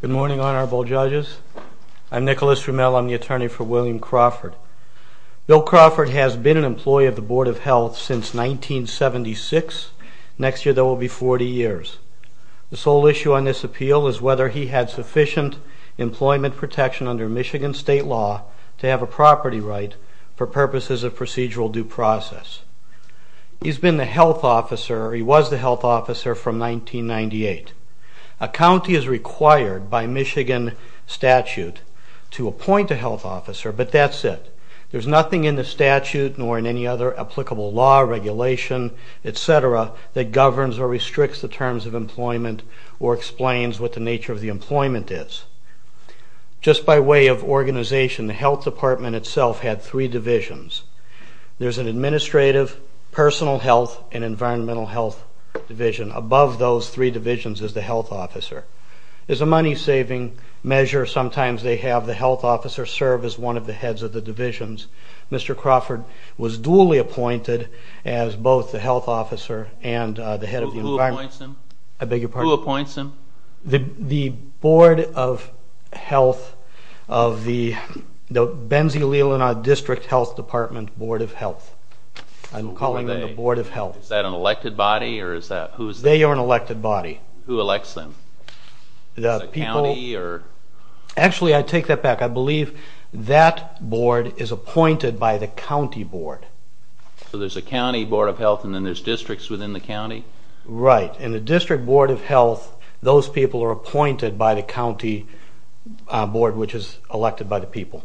Good morning honorable judges. I'm Nicholas Riemel. I'm the attorney for William Crawford. Bill Crawford has been an employee of the Board of Health since 1976. Next year there will be 40 years. The sole issue on this appeal is whether he had sufficient employment protection under Michigan state law to have a property right for purposes of procedural due process. He's been the health officer, he was the health officer from 1998. A county is required by Michigan statute to appoint a health officer but that's it. There's nothing in the statute nor in any other applicable law, etc. that governs or restricts the terms of employment or explains what the nature of the employment is. Just by way of organization, the Health Department itself had three divisions. There's an administrative, personal health, and environmental health division. Above those three divisions is the health officer. As a money-saving measure, sometimes they have the health officer serve as one of the heads of the divisions. Mr. Crawford was duly appointed as both the health officer and the head of the environment. Who appoints him? The Board of Health of the Benzie Leelanau District Health Department Board of Health. I'm calling them the Board of Health. Is that an elected body? They are an elected body. Who elects them? The county? Actually, I take that back. I believe that board is appointed by the county board. So there's a county board of health and then there's districts within the county? Right. In the District Board of Health, those people are appointed by the county board which is elected by the people.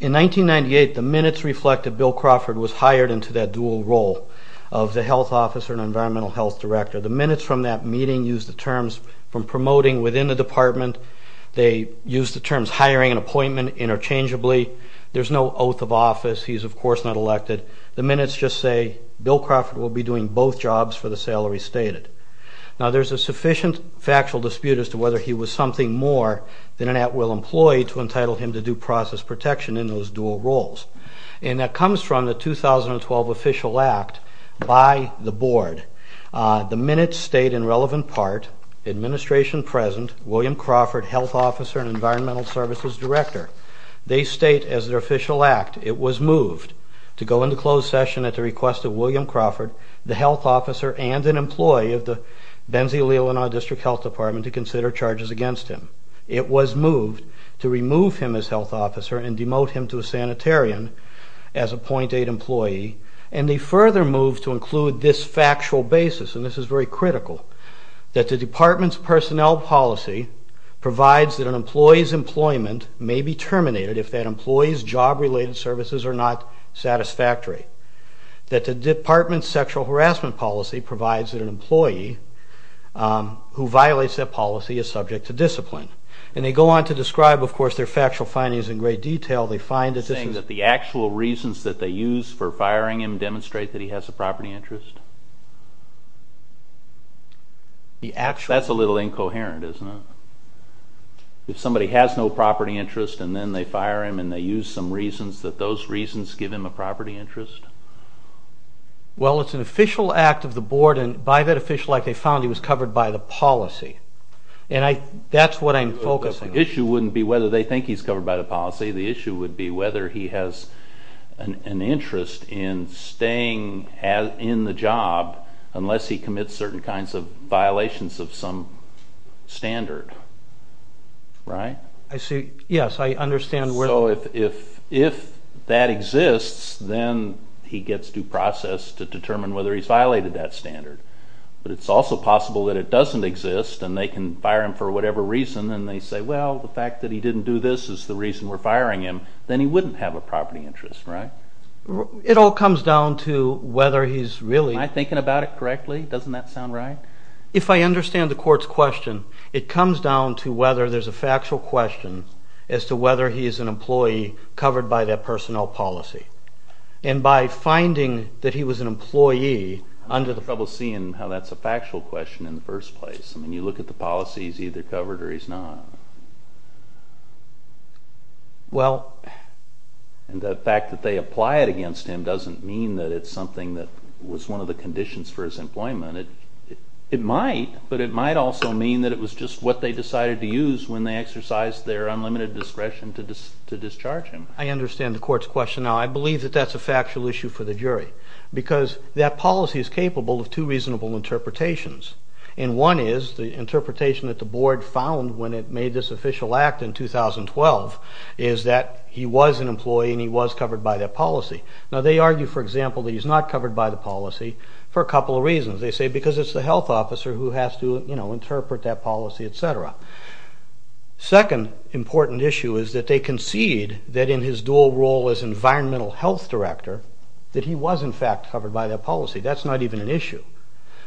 In 1998, the minutes reflected that Bill Crawford was hired into that dual role of the health officer and environmental health director. The minutes from that meeting use the terms from promoting within the department. They use the terms hiring and appointment interchangeably. There's no oath of office. He's of course not elected. The minutes just say Bill Crawford will be doing both jobs for the salary stated. Now there's a sufficient factual dispute as to whether he was something more than an at-will employee to entitle him to due process protection in those dual roles. And that comes from the 2012 Official Act by the board. The minutes state in relevant part, administration present, William Crawford, health officer and environmental services director. They state as their official act, it was moved to go into closed session at the request of William Crawford, the health officer and an employee of the Benzie Leelanau District Health Department to consider charges against him. It was moved to remove him as health officer and demote him to a sanitarian as a point eight employee. And they further moved to include this factual basis, and this is very critical, that the department's personnel policy provides that an employee's employment may be terminated if that employee's job related services are not satisfactory. That the department's sexual harassment policy provides that an employee who violates that policy is subject to discipline. And they go on to describe their factual findings in great detail. They find that the actual reasons that they use for firing him demonstrate that he has a property interest? That's a little incoherent, isn't it? If somebody has no property interest and then they fire him and they use some reasons that those reasons give him a property interest? Well, it's an official act of the board and by that official act they covered by the policy. And that's what I'm focusing on. The issue wouldn't be whether they think he's covered by the policy, the issue would be whether he has an interest in staying in the job unless he commits certain kinds of violations of some standard, right? I see, yes, I understand. So if that exists, then he gets due process to determine whether he's violated that standard. But it's also possible that it doesn't exist and they can fire him for whatever reason and they say, well, the fact that he didn't do this is the reason we're firing him. Then he wouldn't have a property interest, right? It all comes down to whether he's really... Am I thinking about it correctly? Doesn't that sound right? If I understand the court's question, it comes down to whether there's a factual question as to whether he is an employee covered by that personnel policy. And by finding that he was an employee under the... I'm having trouble seeing how that's a factual question in the first place. I mean, you look at the policies, he's either covered or he's not. Well... And the fact that they apply it against him doesn't mean that it's something that was one of the conditions for his employment. It might, but it might also mean that it was just what they decided to use when they exercised their unlimited discretion to discharge him. I understand the court's question now. I believe that that's a factual issue for the jury because that policy is capable of two reasonable interpretations. And one is the interpretation that the board found when it made this official act in 2012 is that he was an employee and he was covered by that policy. Now they argue, for example, that he's not covered by the policy for a couple of reasons. They say because it's the health officer who has to, you know, interpret that policy, etc. Second important issue is that they concede that in his dual role as environmental health director, that he was in fact covered by that policy. That's not even an issue.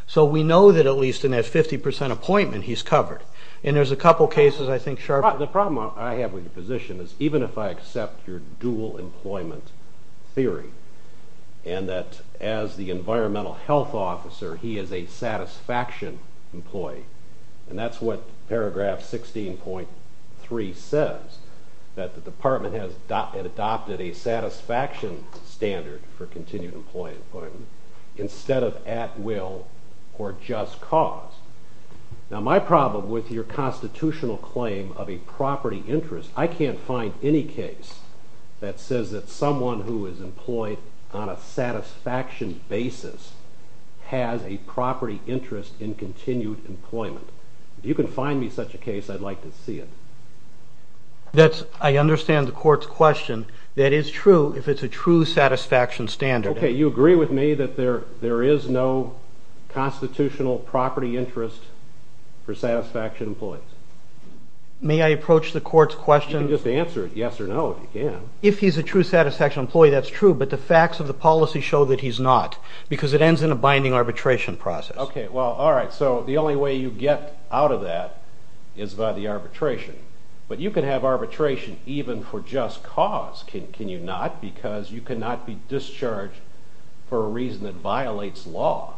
So we know that at least in that 50% appointment, he's covered. And there's a couple cases I think... The problem I have with your position is even if I accept your dual employment theory, and that as the environmental health officer, he is a satisfaction employee. And that's what paragraph 16.3 says, that the department has adopted a satisfaction standard for continued employment instead of at will or just cause. Now my problem with your constitutional claim of a property interest, I can't find any case that says that someone who is employed on a satisfaction basis has a property interest in continued employment. If you can find me such a case, I'd like to see it. That's... I understand the court's question. That is true if it's a true satisfaction standard. Okay, you agree with me that there is no constitutional property interest for satisfaction employees? May I approach the court's question... You can just answer yes or no if you can. If he's a true satisfaction employee, that's true, but the facts of the policy show that he's not, because it ends in a binding arbitration process. Okay, well, alright. So the only way you get out of that is by the arbitration. But you can have arbitration even for just cause, can you not? Because you cannot be discharged for a reason that violates law.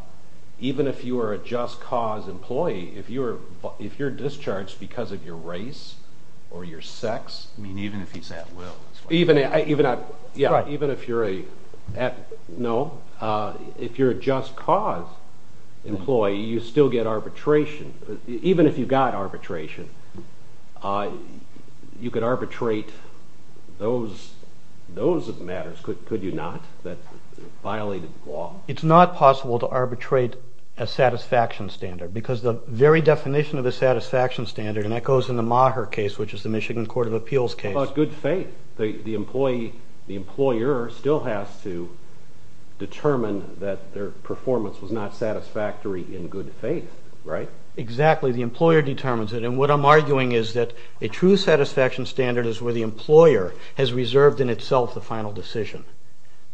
Even if you are a just cause employee, if you're discharged because of your race or your sex... I mean, even if he's at will. Even if you're a just cause employee, you still get arbitration. Even if you got arbitration, you could arbitrate those matters, could you not, that violated law? It's not possible to arbitrate a satisfaction standard, because the very definition of a satisfaction standard, and that goes in the Maher case, which is the Michigan Court of Appeals case... Well, it's good faith. The employer still has to determine that their performance was not satisfactory in good faith, right? Exactly, the employer determines it. And what I'm arguing is that a true satisfaction standard is where the employer has reserved in itself the final decision.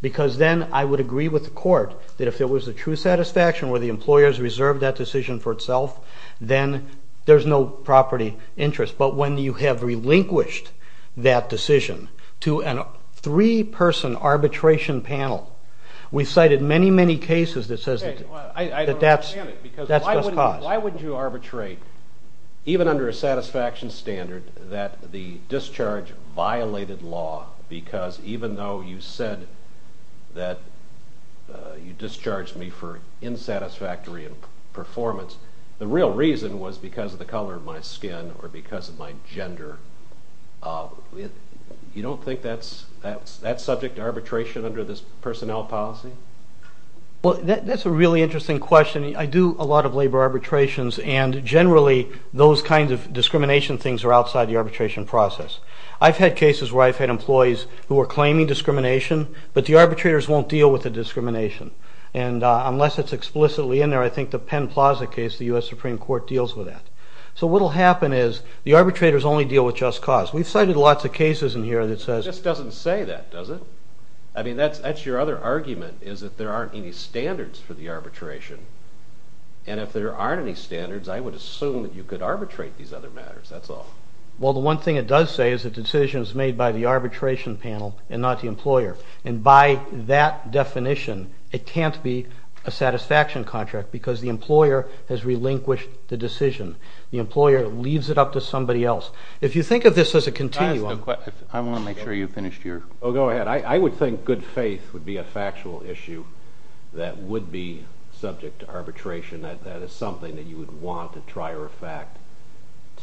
Because then I would agree with the court that if there was a true satisfaction where the employer has reserved that decision for itself, then there's no property interest. But when you have relinquished that decision to a three-person arbitration panel, we cited many, many cases that says that that's just cause. Why wouldn't you arbitrate, even under a satisfaction standard, that the discharge violated law because even though you said that you discharged me for insatisfactory performance, the real reason was because of the color of my skin or because of my gender. You don't think that's subject to arbitration under this personnel policy? Well, that's a really interesting question. I do a lot of labor arbitrations, and generally those kinds of discrimination things are outside the arbitration process. I've had cases where I've had employees who are claiming discrimination, but the arbitrators won't deal with the discrimination. And unless it's explicitly in there, I think the Penn Plaza case, the U.S. Supreme Court deals with that. So what'll happen is the arbitrators only deal with just cause. We've cited lots of cases in here that says... This doesn't say that, does it? I mean, that's your other argument, is that there aren't any standards for the arbitration. And if there aren't any standards, I would assume that you could arbitrate these other matters, that's all. Well, the one thing it does say is that the decision is made by the arbitration panel and not the employer. And by that definition, it can't be a satisfaction contract because the employer has relinquished the decision. The employer leaves it up to somebody else. If you think of this as a continuum... I want to make sure you finished your... Oh, go ahead. I would think good faith would be a factual issue that would be subject to arbitration. That is something that you would want to try or affect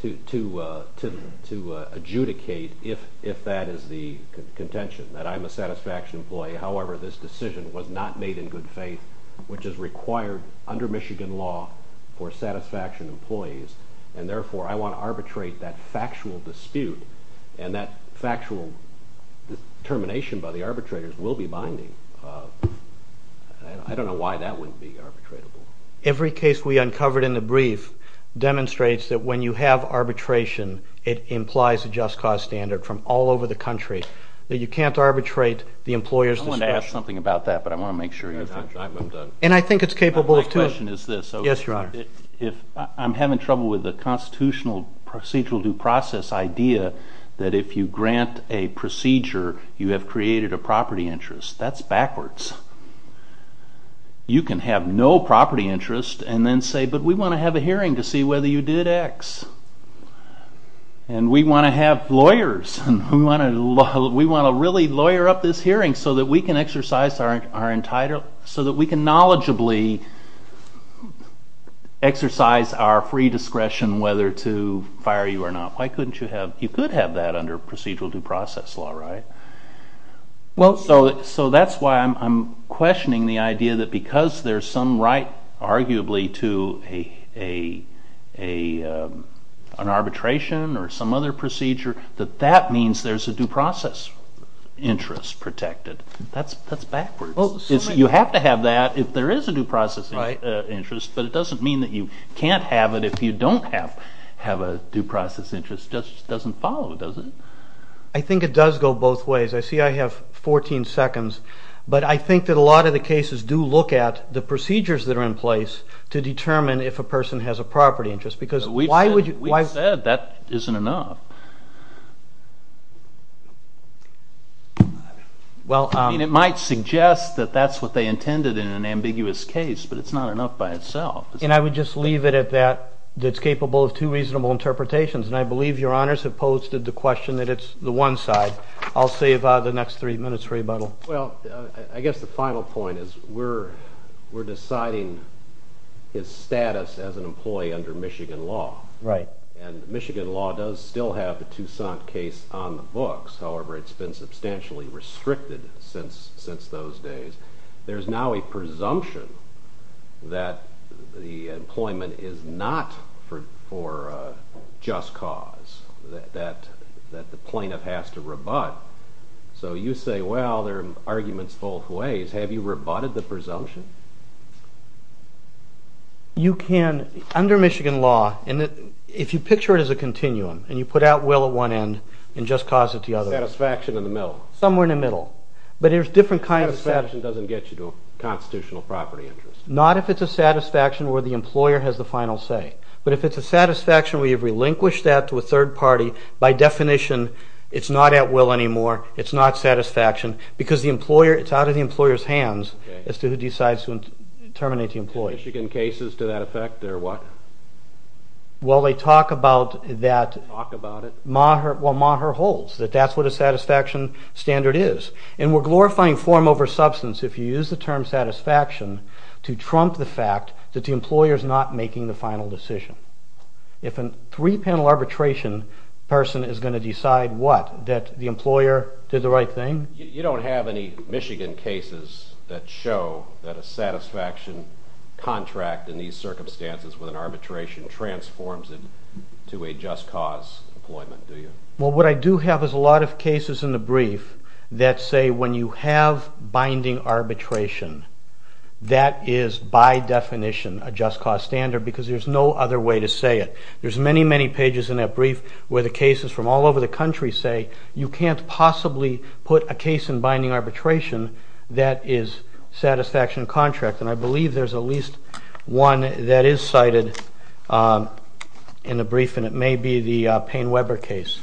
to adjudicate if that is the contention, that I'm a satisfaction employee. However, this decision was not made in good faith, which is required under Michigan law for satisfaction employees. And therefore, I want to arbitrate that factual dispute, and that factual determination by the arbitrators will be binding. I don't know why that wouldn't be arbitratable. Every case we uncovered in the brief demonstrates that when you have arbitration, it implies a just cause standard from all over the country, that you can't arbitrate the employer's discretion. I wanted to ask something about that, but I want to make sure you're finished. And I think it's capable of two. My question is this. Yes, Your Honor. I'm having trouble with the constitutional procedural due process idea that if you grant a procedure, you have created a property interest. That's backwards. You can have no property interest and then say, but we want to have a hearing to see whether you did X. And we want to have lawyers. We want to really lawyer up this hearing so that we can knowledgeably exercise our free discretion whether to fire you or not. Why couldn't you have, you could have that under procedural due process law, right? So that's why I'm questioning the idea that because there's some right arguably to an arbitration or some other procedure, that that means there's a due process interest protected. That's backwards. You have to have that if there is a due process interest, but it doesn't mean that you can't have it if you don't have a due process interest. It just doesn't follow, does it? I think it does go both ways. I see I have 14 seconds, but I think that a lot of the cases do look at the procedures that are in place to determine if a person has a property interest. We've said that isn't enough. It might suggest that that's what they intended in an ambiguous case, but it's not enough by itself. And I would just leave it at that. It's capable of two reasonable interpretations, and I believe your honors have posted the question that it's the one side. I'll save the next three minutes for rebuttal. Well, I guess the final point is we're deciding his status as an employee under Michigan law. Right. And Michigan law does still have the Toussaint case on the books. However, it's been substantially restricted since those days. There's now a presumption that the employment is not for just cause, that the plaintiff has to rebut. So you say, well, there are arguments both ways. Have you rebutted the presumption? Under Michigan law, if you picture it as a continuum and you put out will at one end and just cause at the other. Satisfaction in the middle. Somewhere in the middle. Satisfaction doesn't get you to a constitutional property interest. Not if it's a satisfaction where the employer has the final say. But if it's a satisfaction where you've relinquished that to a third party, by definition, it's not at will anymore. It's not satisfaction because it's out of the employer's hands as to who decides to terminate the employee. In Michigan cases, to that effect, they're what? Well, they talk about that. Talk about it. Well, Maher holds that that's what a satisfaction standard is. And we're glorifying form over substance if you use the term satisfaction to trump the fact that the employer's not making the final decision. If a three-panel arbitration person is going to decide what? That the employer did the right thing? You don't have any Michigan cases that show that a satisfaction contract in these circumstances with an arbitration transforms it to a just cause employment, do you? Well, what I do have is a lot of cases in the brief that say when you have binding arbitration, that is by definition a just cause standard because there's no other way to say it. There's many, many pages in that brief where the cases from all over the country say you can't possibly put a case in binding arbitration that is satisfaction contract. And I believe there's at least one that is cited in the brief, and it may be the Payne-Weber case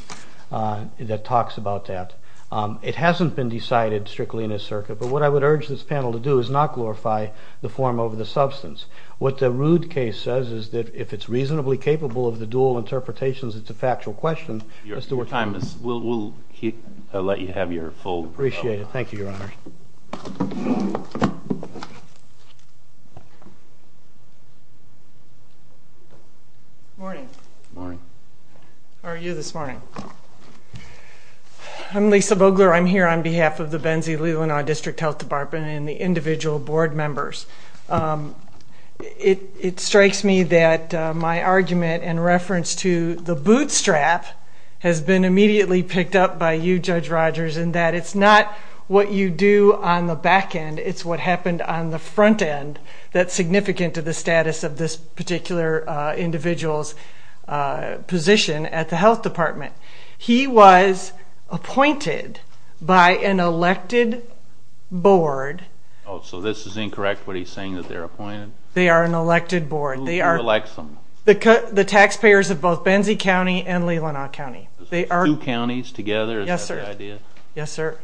that talks about that. It hasn't been decided strictly in this circuit, but what I would urge this panel to do is not glorify the form over the substance. What the Rood case says is that if it's reasonably capable of the dual interpretations, it's a factual question. Your time is, we'll let you have your full. Appreciate it. Thank you, Your Honor. Morning. Morning. How are you this morning? I'm Lisa Bogler. I'm here on behalf of the Benzie-Lelanau District Health Department and the individual board members. It strikes me that my argument in reference to the bootstrap has been immediately picked up by you, Judge Rogers, in that it's not what you do on the back end. It's what happened on the front end that's significant to the status of this particular individual's position at the health department. He was appointed by an elected board. Oh, so this is incorrect, what he's saying, that they're appointed? They are an elected board. Who elects them? The taxpayers of both Benzie County and Lelanau County. Two counties together, is that the idea? Yes, sir.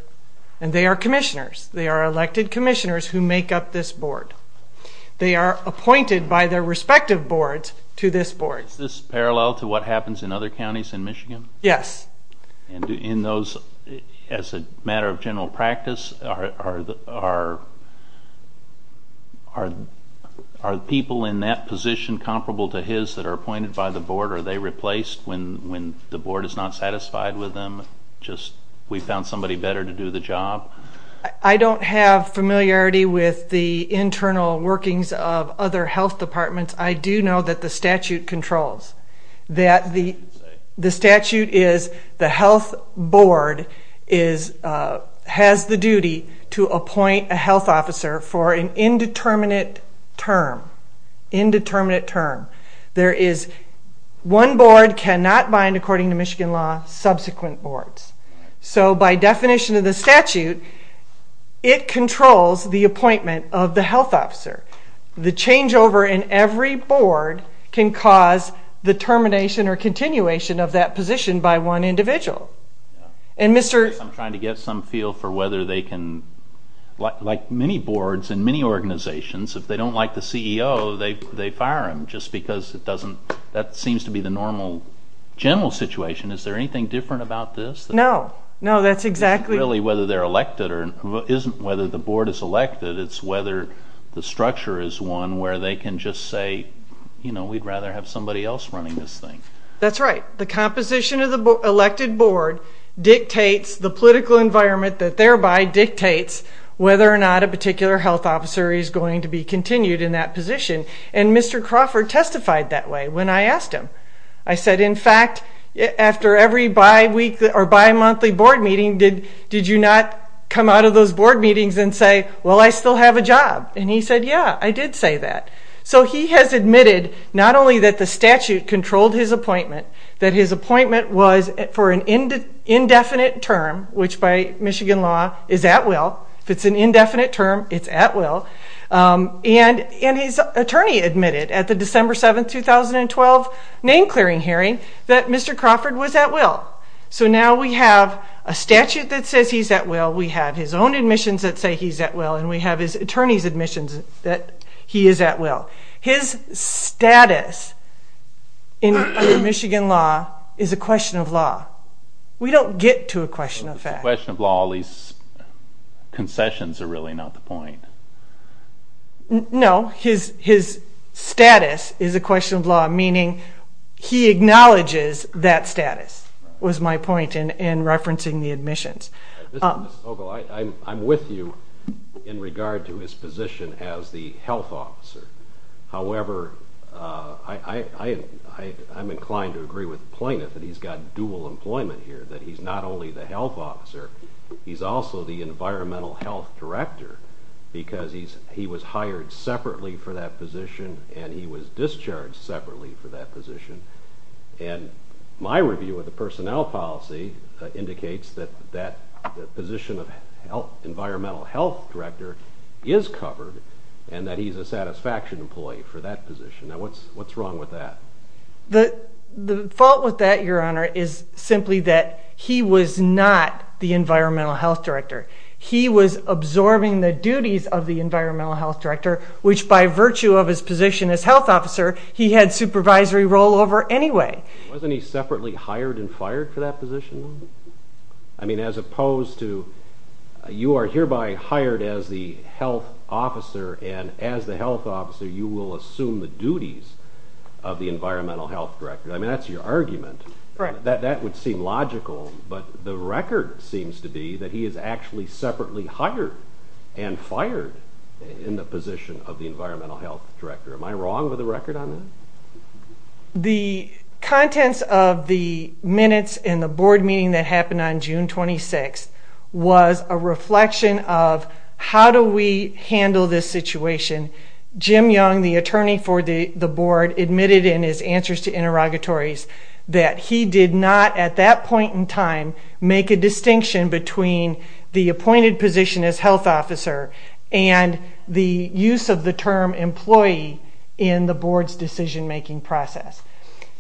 And they are commissioners. They are elected commissioners who make up this board. They are appointed by their respective boards to this board. Is this parallel to what happens in other counties in Michigan? Yes. And in those, as a matter of general practice, are people in that position comparable to his that are appointed by the board? Are they replaced when the board is not satisfied with them, just we found somebody better to do the job? I don't have familiarity with the internal workings of other health departments. I do know that the statute controls, that the statute is the health board has the duty to appoint a health officer for an indeterminate term. Indeterminate term. There is one board cannot bind, according to Michigan law, subsequent boards. So by definition of the statute, it controls the appointment of the health officer. The changeover in every board can cause the termination or continuation of that position by one individual. I'm trying to get some feel for whether they can, like many boards and many organizations, if they don't like the CEO, they fire him just because it doesn't, that seems to be the normal general situation. Is there anything different about this? No. No, that's exactly. Really, whether they're elected or isn't, whether the board is elected, it's whether the structure is one where they can just say, you know, we'd rather have somebody else running this thing. That's right. The composition of the elected board dictates the political environment that thereby dictates whether or not a particular health officer is going to be continued in that position. And Mr. Crawford testified that way when I asked him. I said, in fact, after every bi-weekly or bi-monthly board meeting, did you not come out of those board meetings and say, well, I still have a job? And he said, yeah, I did say that. So he has admitted not only that the statute controlled his appointment, that his appointment was for an indefinite term, which by Michigan law is at will. If it's an indefinite term, it's at will. And his attorney admitted at the December 7, 2012 name-clearing hearing that Mr. Crawford was at will. So now we have a statute that says he's at will, we have his own admissions that say he's at will, and we have his attorney's admissions that he is at will. So his status under Michigan law is a question of law. We don't get to a question of fact. If it's a question of law, all these concessions are really not the point. No, his status is a question of law, meaning he acknowledges that status, was my point in referencing the admissions. I'm with you in regard to his position as the health officer. However, I'm inclined to agree with the plaintiff that he's got dual employment here, that he's not only the health officer, he's also the environmental health director because he was hired separately for that position and he was discharged separately for that position. And my review of the personnel policy indicates that that position of environmental health director is covered and that he's a satisfaction employee for that position. Now, what's wrong with that? The fault with that, Your Honor, is simply that he was not the environmental health director. He was absorbing the duties of the environmental health director, which by virtue of his position as health officer, he had supervisory role over anyway. Wasn't he separately hired and fired for that position? I mean, as opposed to you are hereby hired as the health officer, and as the health officer you will assume the duties of the environmental health director. I mean, that's your argument. That would seem logical, but the record seems to be that he is actually separately hired and fired in the position of the environmental health director. Am I wrong with the record on that? The contents of the minutes in the board meeting that happened on June 26th was a reflection of how do we handle this situation. Jim Young, the attorney for the board, admitted in his answers to interrogatories that he did not at that point in time make a distinction between the appointed position as health officer and the use of the term employee in the board's decision-making process.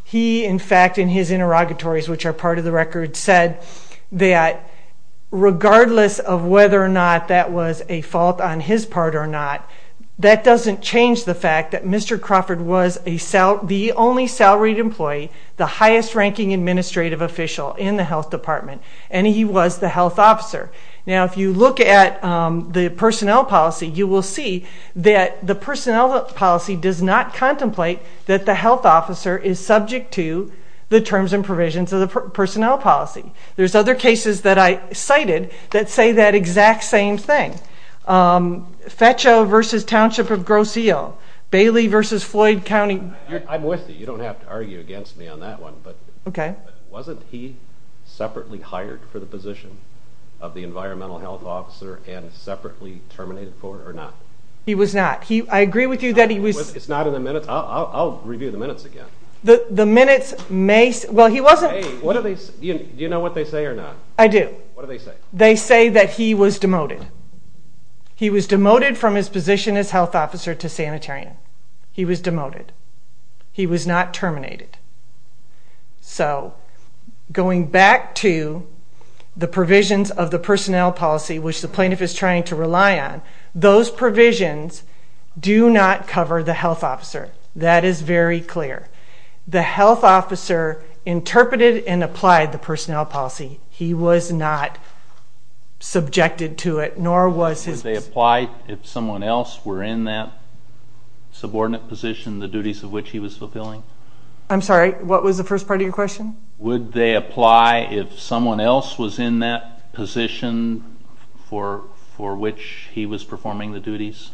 He, in fact, in his interrogatories, which are part of the record, said that regardless of whether or not that was a fault on his part or not, that doesn't change the fact that Mr. Crawford was the only salaried employee, the highest-ranking administrative official in the health department, and he was the health officer. Now, if you look at the personnel policy, you will see that the personnel policy does not contemplate that the health officer is subject to the terms and provisions of the personnel policy. There's other cases that I cited that say that exact same thing. FETCHO v. Township of Grosse Ile, Bailey v. Floyd County... I'm with you. You don't have to argue against me on that one. Okay. But wasn't he separately hired for the position of the environmental health officer and separately terminated for it or not? He was not. I agree with you that he was... It's not in the minutes? I'll review the minutes again. The minutes may... Well, he wasn't... Hey, do you know what they say or not? I do. What do they say? They say that he was demoted. He was demoted from his position as health officer to sanitarian. He was demoted. He was not terminated. So going back to the provisions of the personnel policy, which the plaintiff is trying to rely on, those provisions do not cover the health officer. That is very clear. The health officer interpreted and applied the personnel policy. He was not subjected to it, nor was his... Would they apply if someone else were in that subordinate position, the duties of which he was fulfilling? I'm sorry. What was the first part of your question? Would they apply if someone else was in that position for which he was performing the duties?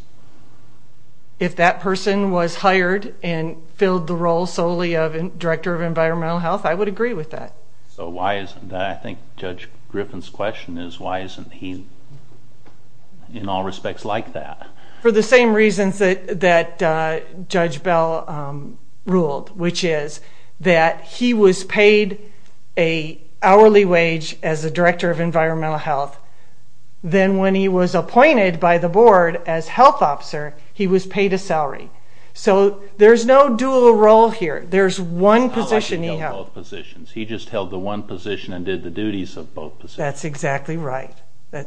If that person was hired and filled the role solely of director of environmental health, I would agree with that. So why isn't that? I think Judge Griffin's question is why isn't he in all respects like that? For the same reasons that Judge Bell ruled, which is that he was paid an hourly wage as a director of environmental health. Then when he was appointed by the board as health officer, he was paid a salary. So there's no dual role here. There's one position he held. He held both positions. He just held the one position and did the duties of both positions. That's exactly right.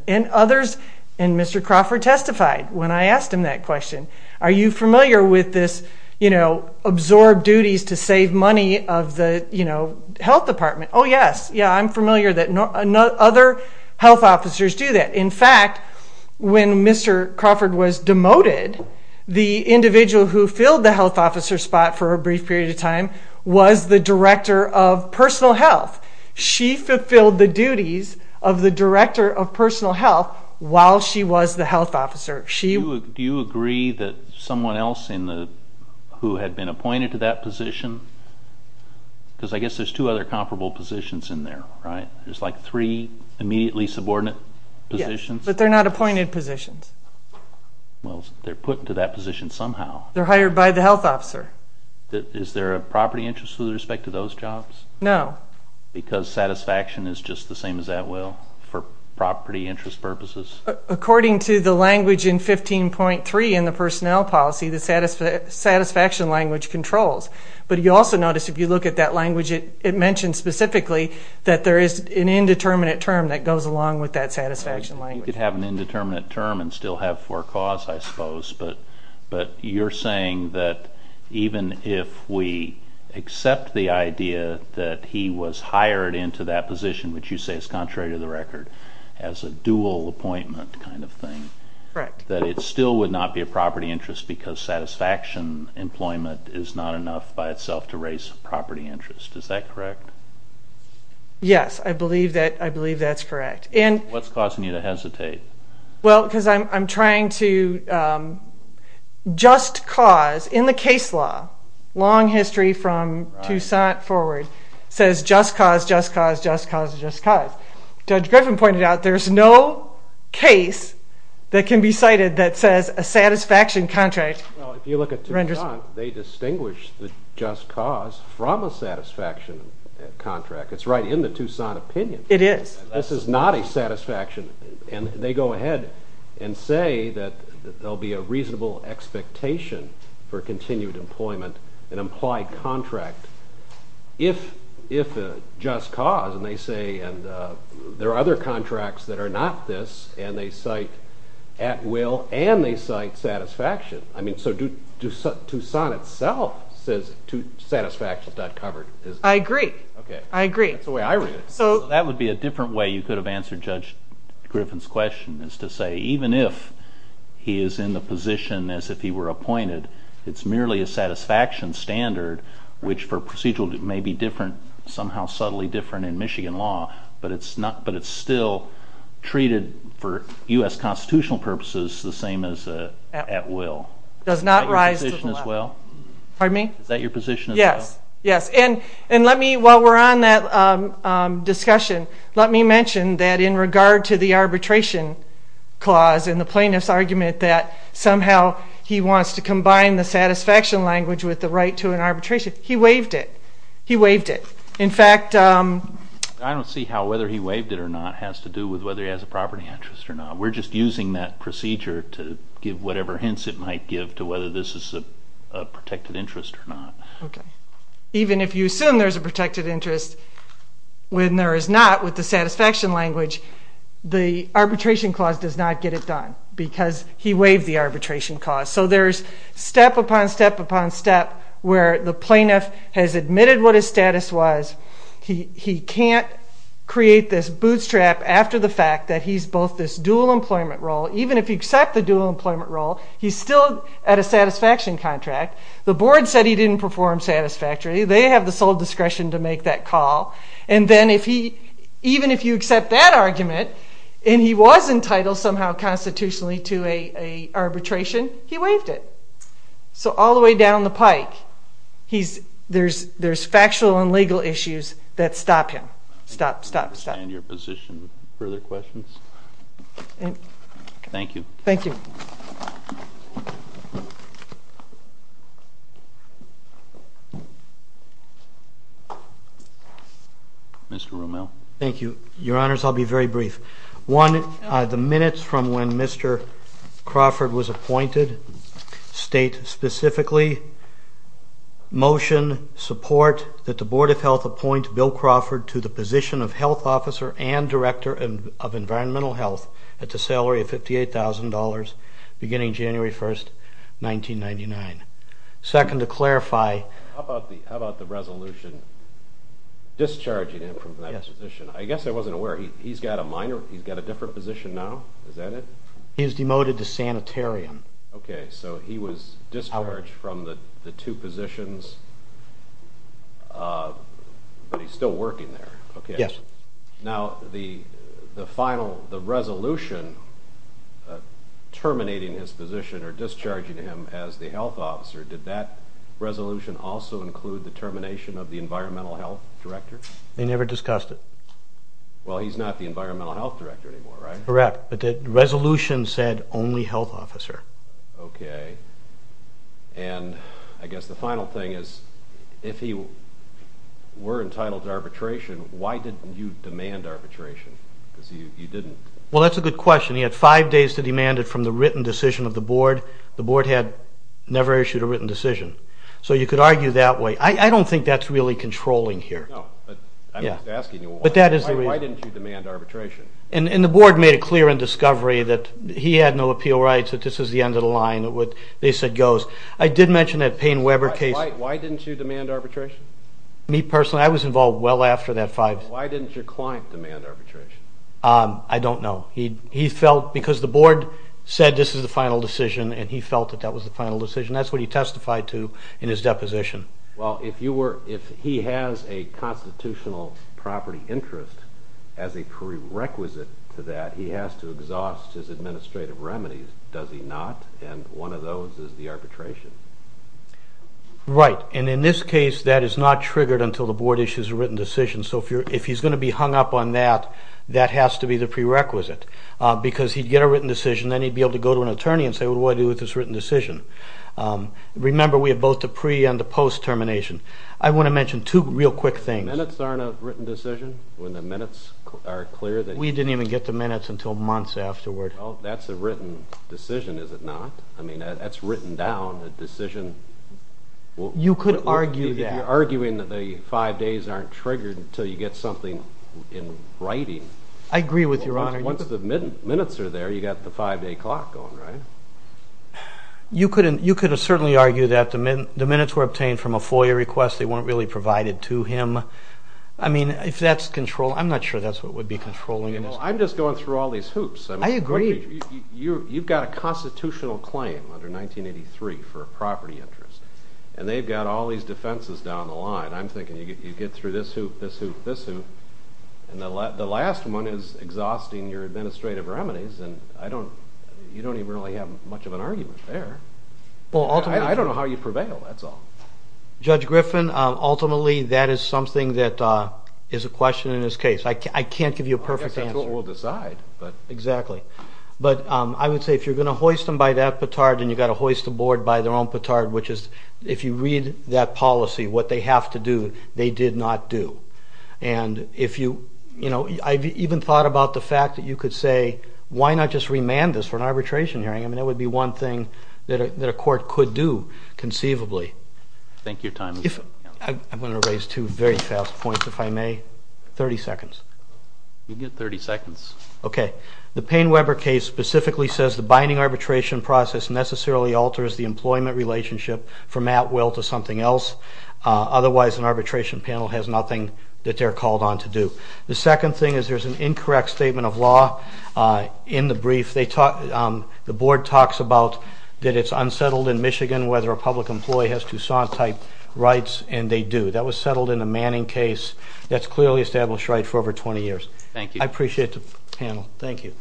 Others, and Mr. Crawford testified when I asked him that question, are you familiar with this absorb duties to save money of the health department? Oh, yes. Yeah, I'm familiar that other health officers do that. In fact, when Mr. Crawford was demoted, the individual who filled the health officer spot for a brief period of time was the director of personal health. She fulfilled the duties of the director of personal health while she was the health officer. Do you agree that someone else who had been appointed to that position, because I guess there's two other comparable positions in there, right? There's like three immediately subordinate positions. Yes, but they're not appointed positions. Well, they're put into that position somehow. They're hired by the health officer. Is there a property interest with respect to those jobs? No. Because satisfaction is just the same as that will for property interest purposes? According to the language in 15.3 in the personnel policy, the satisfaction language controls. But you also notice if you look at that language, it mentions specifically that there is an indeterminate term that goes along with that satisfaction language. You could have an indeterminate term and still have four cause, I suppose, but you're saying that even if we accept the idea that he was hired into that position, which you say is contrary to the record, as a dual appointment kind of thing, that it still would not be a property interest because satisfaction employment is not enough by itself to raise property interest. Is that correct? Yes, I believe that's correct. What's causing you to hesitate? Well, because I'm trying to just cause. In the case law, long history from Tucson forward, it says just cause, just cause, just cause, just cause. Judge Griffin pointed out there's no case that can be cited that says a satisfaction contract. Well, if you look at Tucson, they distinguish the just cause from a satisfaction contract. It's right in the Tucson opinion. It is. This is not a satisfaction, and they go ahead and say that there will be a reasonable expectation for continued employment, an implied contract, if a just cause, and they say there are other contracts that are not this, and they cite at will and they cite satisfaction. I mean, so Tucson itself says satisfaction is not covered. I agree. Okay. I agree. That's the way I read it. That would be a different way you could have answered Judge Griffin's question, is to say even if he is in the position as if he were appointed, it's merely a satisfaction standard, which for procedural may be different, somehow subtly different in Michigan law, but it's still treated for U.S. constitutional purposes the same as at will. Does not rise to the level. Is that your position as well? Pardon me? Is that your position as well? Yes, yes. And let me, while we're on that discussion, let me mention that in regard to the arbitration clause and the plaintiff's argument that somehow he wants to combine the satisfaction language with the right to an arbitration, he waived it. He waived it. In fact, I don't see how whether he waived it or not has to do with whether he has a property interest or not. We're just using that procedure to give whatever hints it might give to whether this is a protected interest or not. Okay. Even if you assume there's a protected interest, when there is not with the satisfaction language, the arbitration clause does not get it done because he waived the arbitration clause. So there's step upon step upon step where the plaintiff has admitted what his status was. He can't create this bootstrap after the fact that he's both this dual employment role, even if you accept the dual employment role, he's still at a satisfaction contract. The board said he didn't perform satisfactorily. They have the sole discretion to make that call. And then even if you accept that argument and he was entitled somehow constitutionally to an arbitration, he waived it. So all the way down the pike, there's factual and legal issues that stop him. Stop, stop, stop. I understand your position. Further questions? Thank you. Thank you. Mr. Romel. Thank you. Your Honors, I'll be very brief. One, the minutes from when Mr. Crawford was appointed state specifically, motion, support that the Board of Health appoint Bill Crawford to the position of Health Officer and Director of Environmental Health at the salary of $58,000 beginning January 1, 1999. Second, to clarify. How about the resolution discharging him from that position? Yes. I guess I wasn't aware. He's got a different position now. Is that it? He is demoted to sanitarium. Okay. So he was discharged from the two positions, but he's still working there. Yes. Now, the final, the resolution terminating his position or discharging him as the Health Officer, did that resolution also include the termination of the Environmental Health Director? They never discussed it. Well, he's not the Environmental Health Director anymore, right? Correct. But the resolution said only Health Officer. Okay. And I guess the final thing is if he were entitled to arbitration, why didn't you demand arbitration? Because you didn't. Well, that's a good question. He had five days to demand it from the written decision of the Board. The Board had never issued a written decision. So you could argue that way. I don't think that's really controlling here. No, but I'm just asking you, why didn't you demand arbitration? And the Board made it clear in discovery that he had no appeal rights, that this is the end of the line, what they said goes. I did mention that Payne-Weber case. Why didn't you demand arbitration? Me personally, I was involved well after that five days. Why didn't your client demand arbitration? I don't know. He felt because the Board said this is the final decision, and he felt that that was the final decision. That's what he testified to in his deposition. Well, if he has a constitutional property interest as a prerequisite to that, he has to exhaust his administrative remedies, does he not? And one of those is the arbitration. Right. And in this case, that is not triggered until the Board issues a written decision. So if he's going to be hung up on that, that has to be the prerequisite because he'd get a written decision, then he'd be able to go to an attorney and say, well, what do I do with this written decision? Remember, we have both the pre- and the post-termination. I want to mention two real quick things. Minutes aren't a written decision when the minutes are clear? We didn't even get the minutes until months afterward. Well, that's a written decision, is it not? I mean, that's written down, a decision. You could argue that. If you're arguing that the five days aren't triggered until you get something in writing. I agree with Your Honor. Once the minutes are there, you've got the five-day clock going, right? You could certainly argue that. The minutes were obtained from a FOIA request. They weren't really provided to him. I mean, if that's control, I'm not sure that's what would be controlling this. I'm just going through all these hoops. I agree. You've got a constitutional claim under 1983 for a property interest, and they've got all these defenses down the line. I'm thinking you get through this hoop, this hoop, this hoop, and the last one is exhausting your administrative remedies, and you don't even really have much of an argument there. I don't know how you prevail, that's all. Judge Griffin, ultimately that is something that is a question in this case. I can't give you a perfect answer. We'll decide. Exactly. But I would say if you're going to hoist them by that petard, then you've got to hoist the board by their own petard, which is if you read that policy, what they have to do, they did not do. And I've even thought about the fact that you could say, why not just remand this for an arbitration hearing? I mean, that would be one thing that a court could do conceivably. Thank you for your time. I'm going to raise two very fast points, if I may. 30 seconds. You get 30 seconds. Okay. The Payne-Weber case specifically says the binding arbitration process necessarily alters the employment relationship from at will to something else. Otherwise, an arbitration panel has nothing that they're called on to do. The second thing is there's an incorrect statement of law in the brief. The board talks about that it's unsettled in Michigan whether a public employee has Toussaint-type rights, and they do. That was settled in the Manning case. That's clearly established rights for over 20 years. Thank you. I appreciate the panel. Thank you.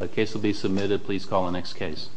The case will be submitted. Please call the next case.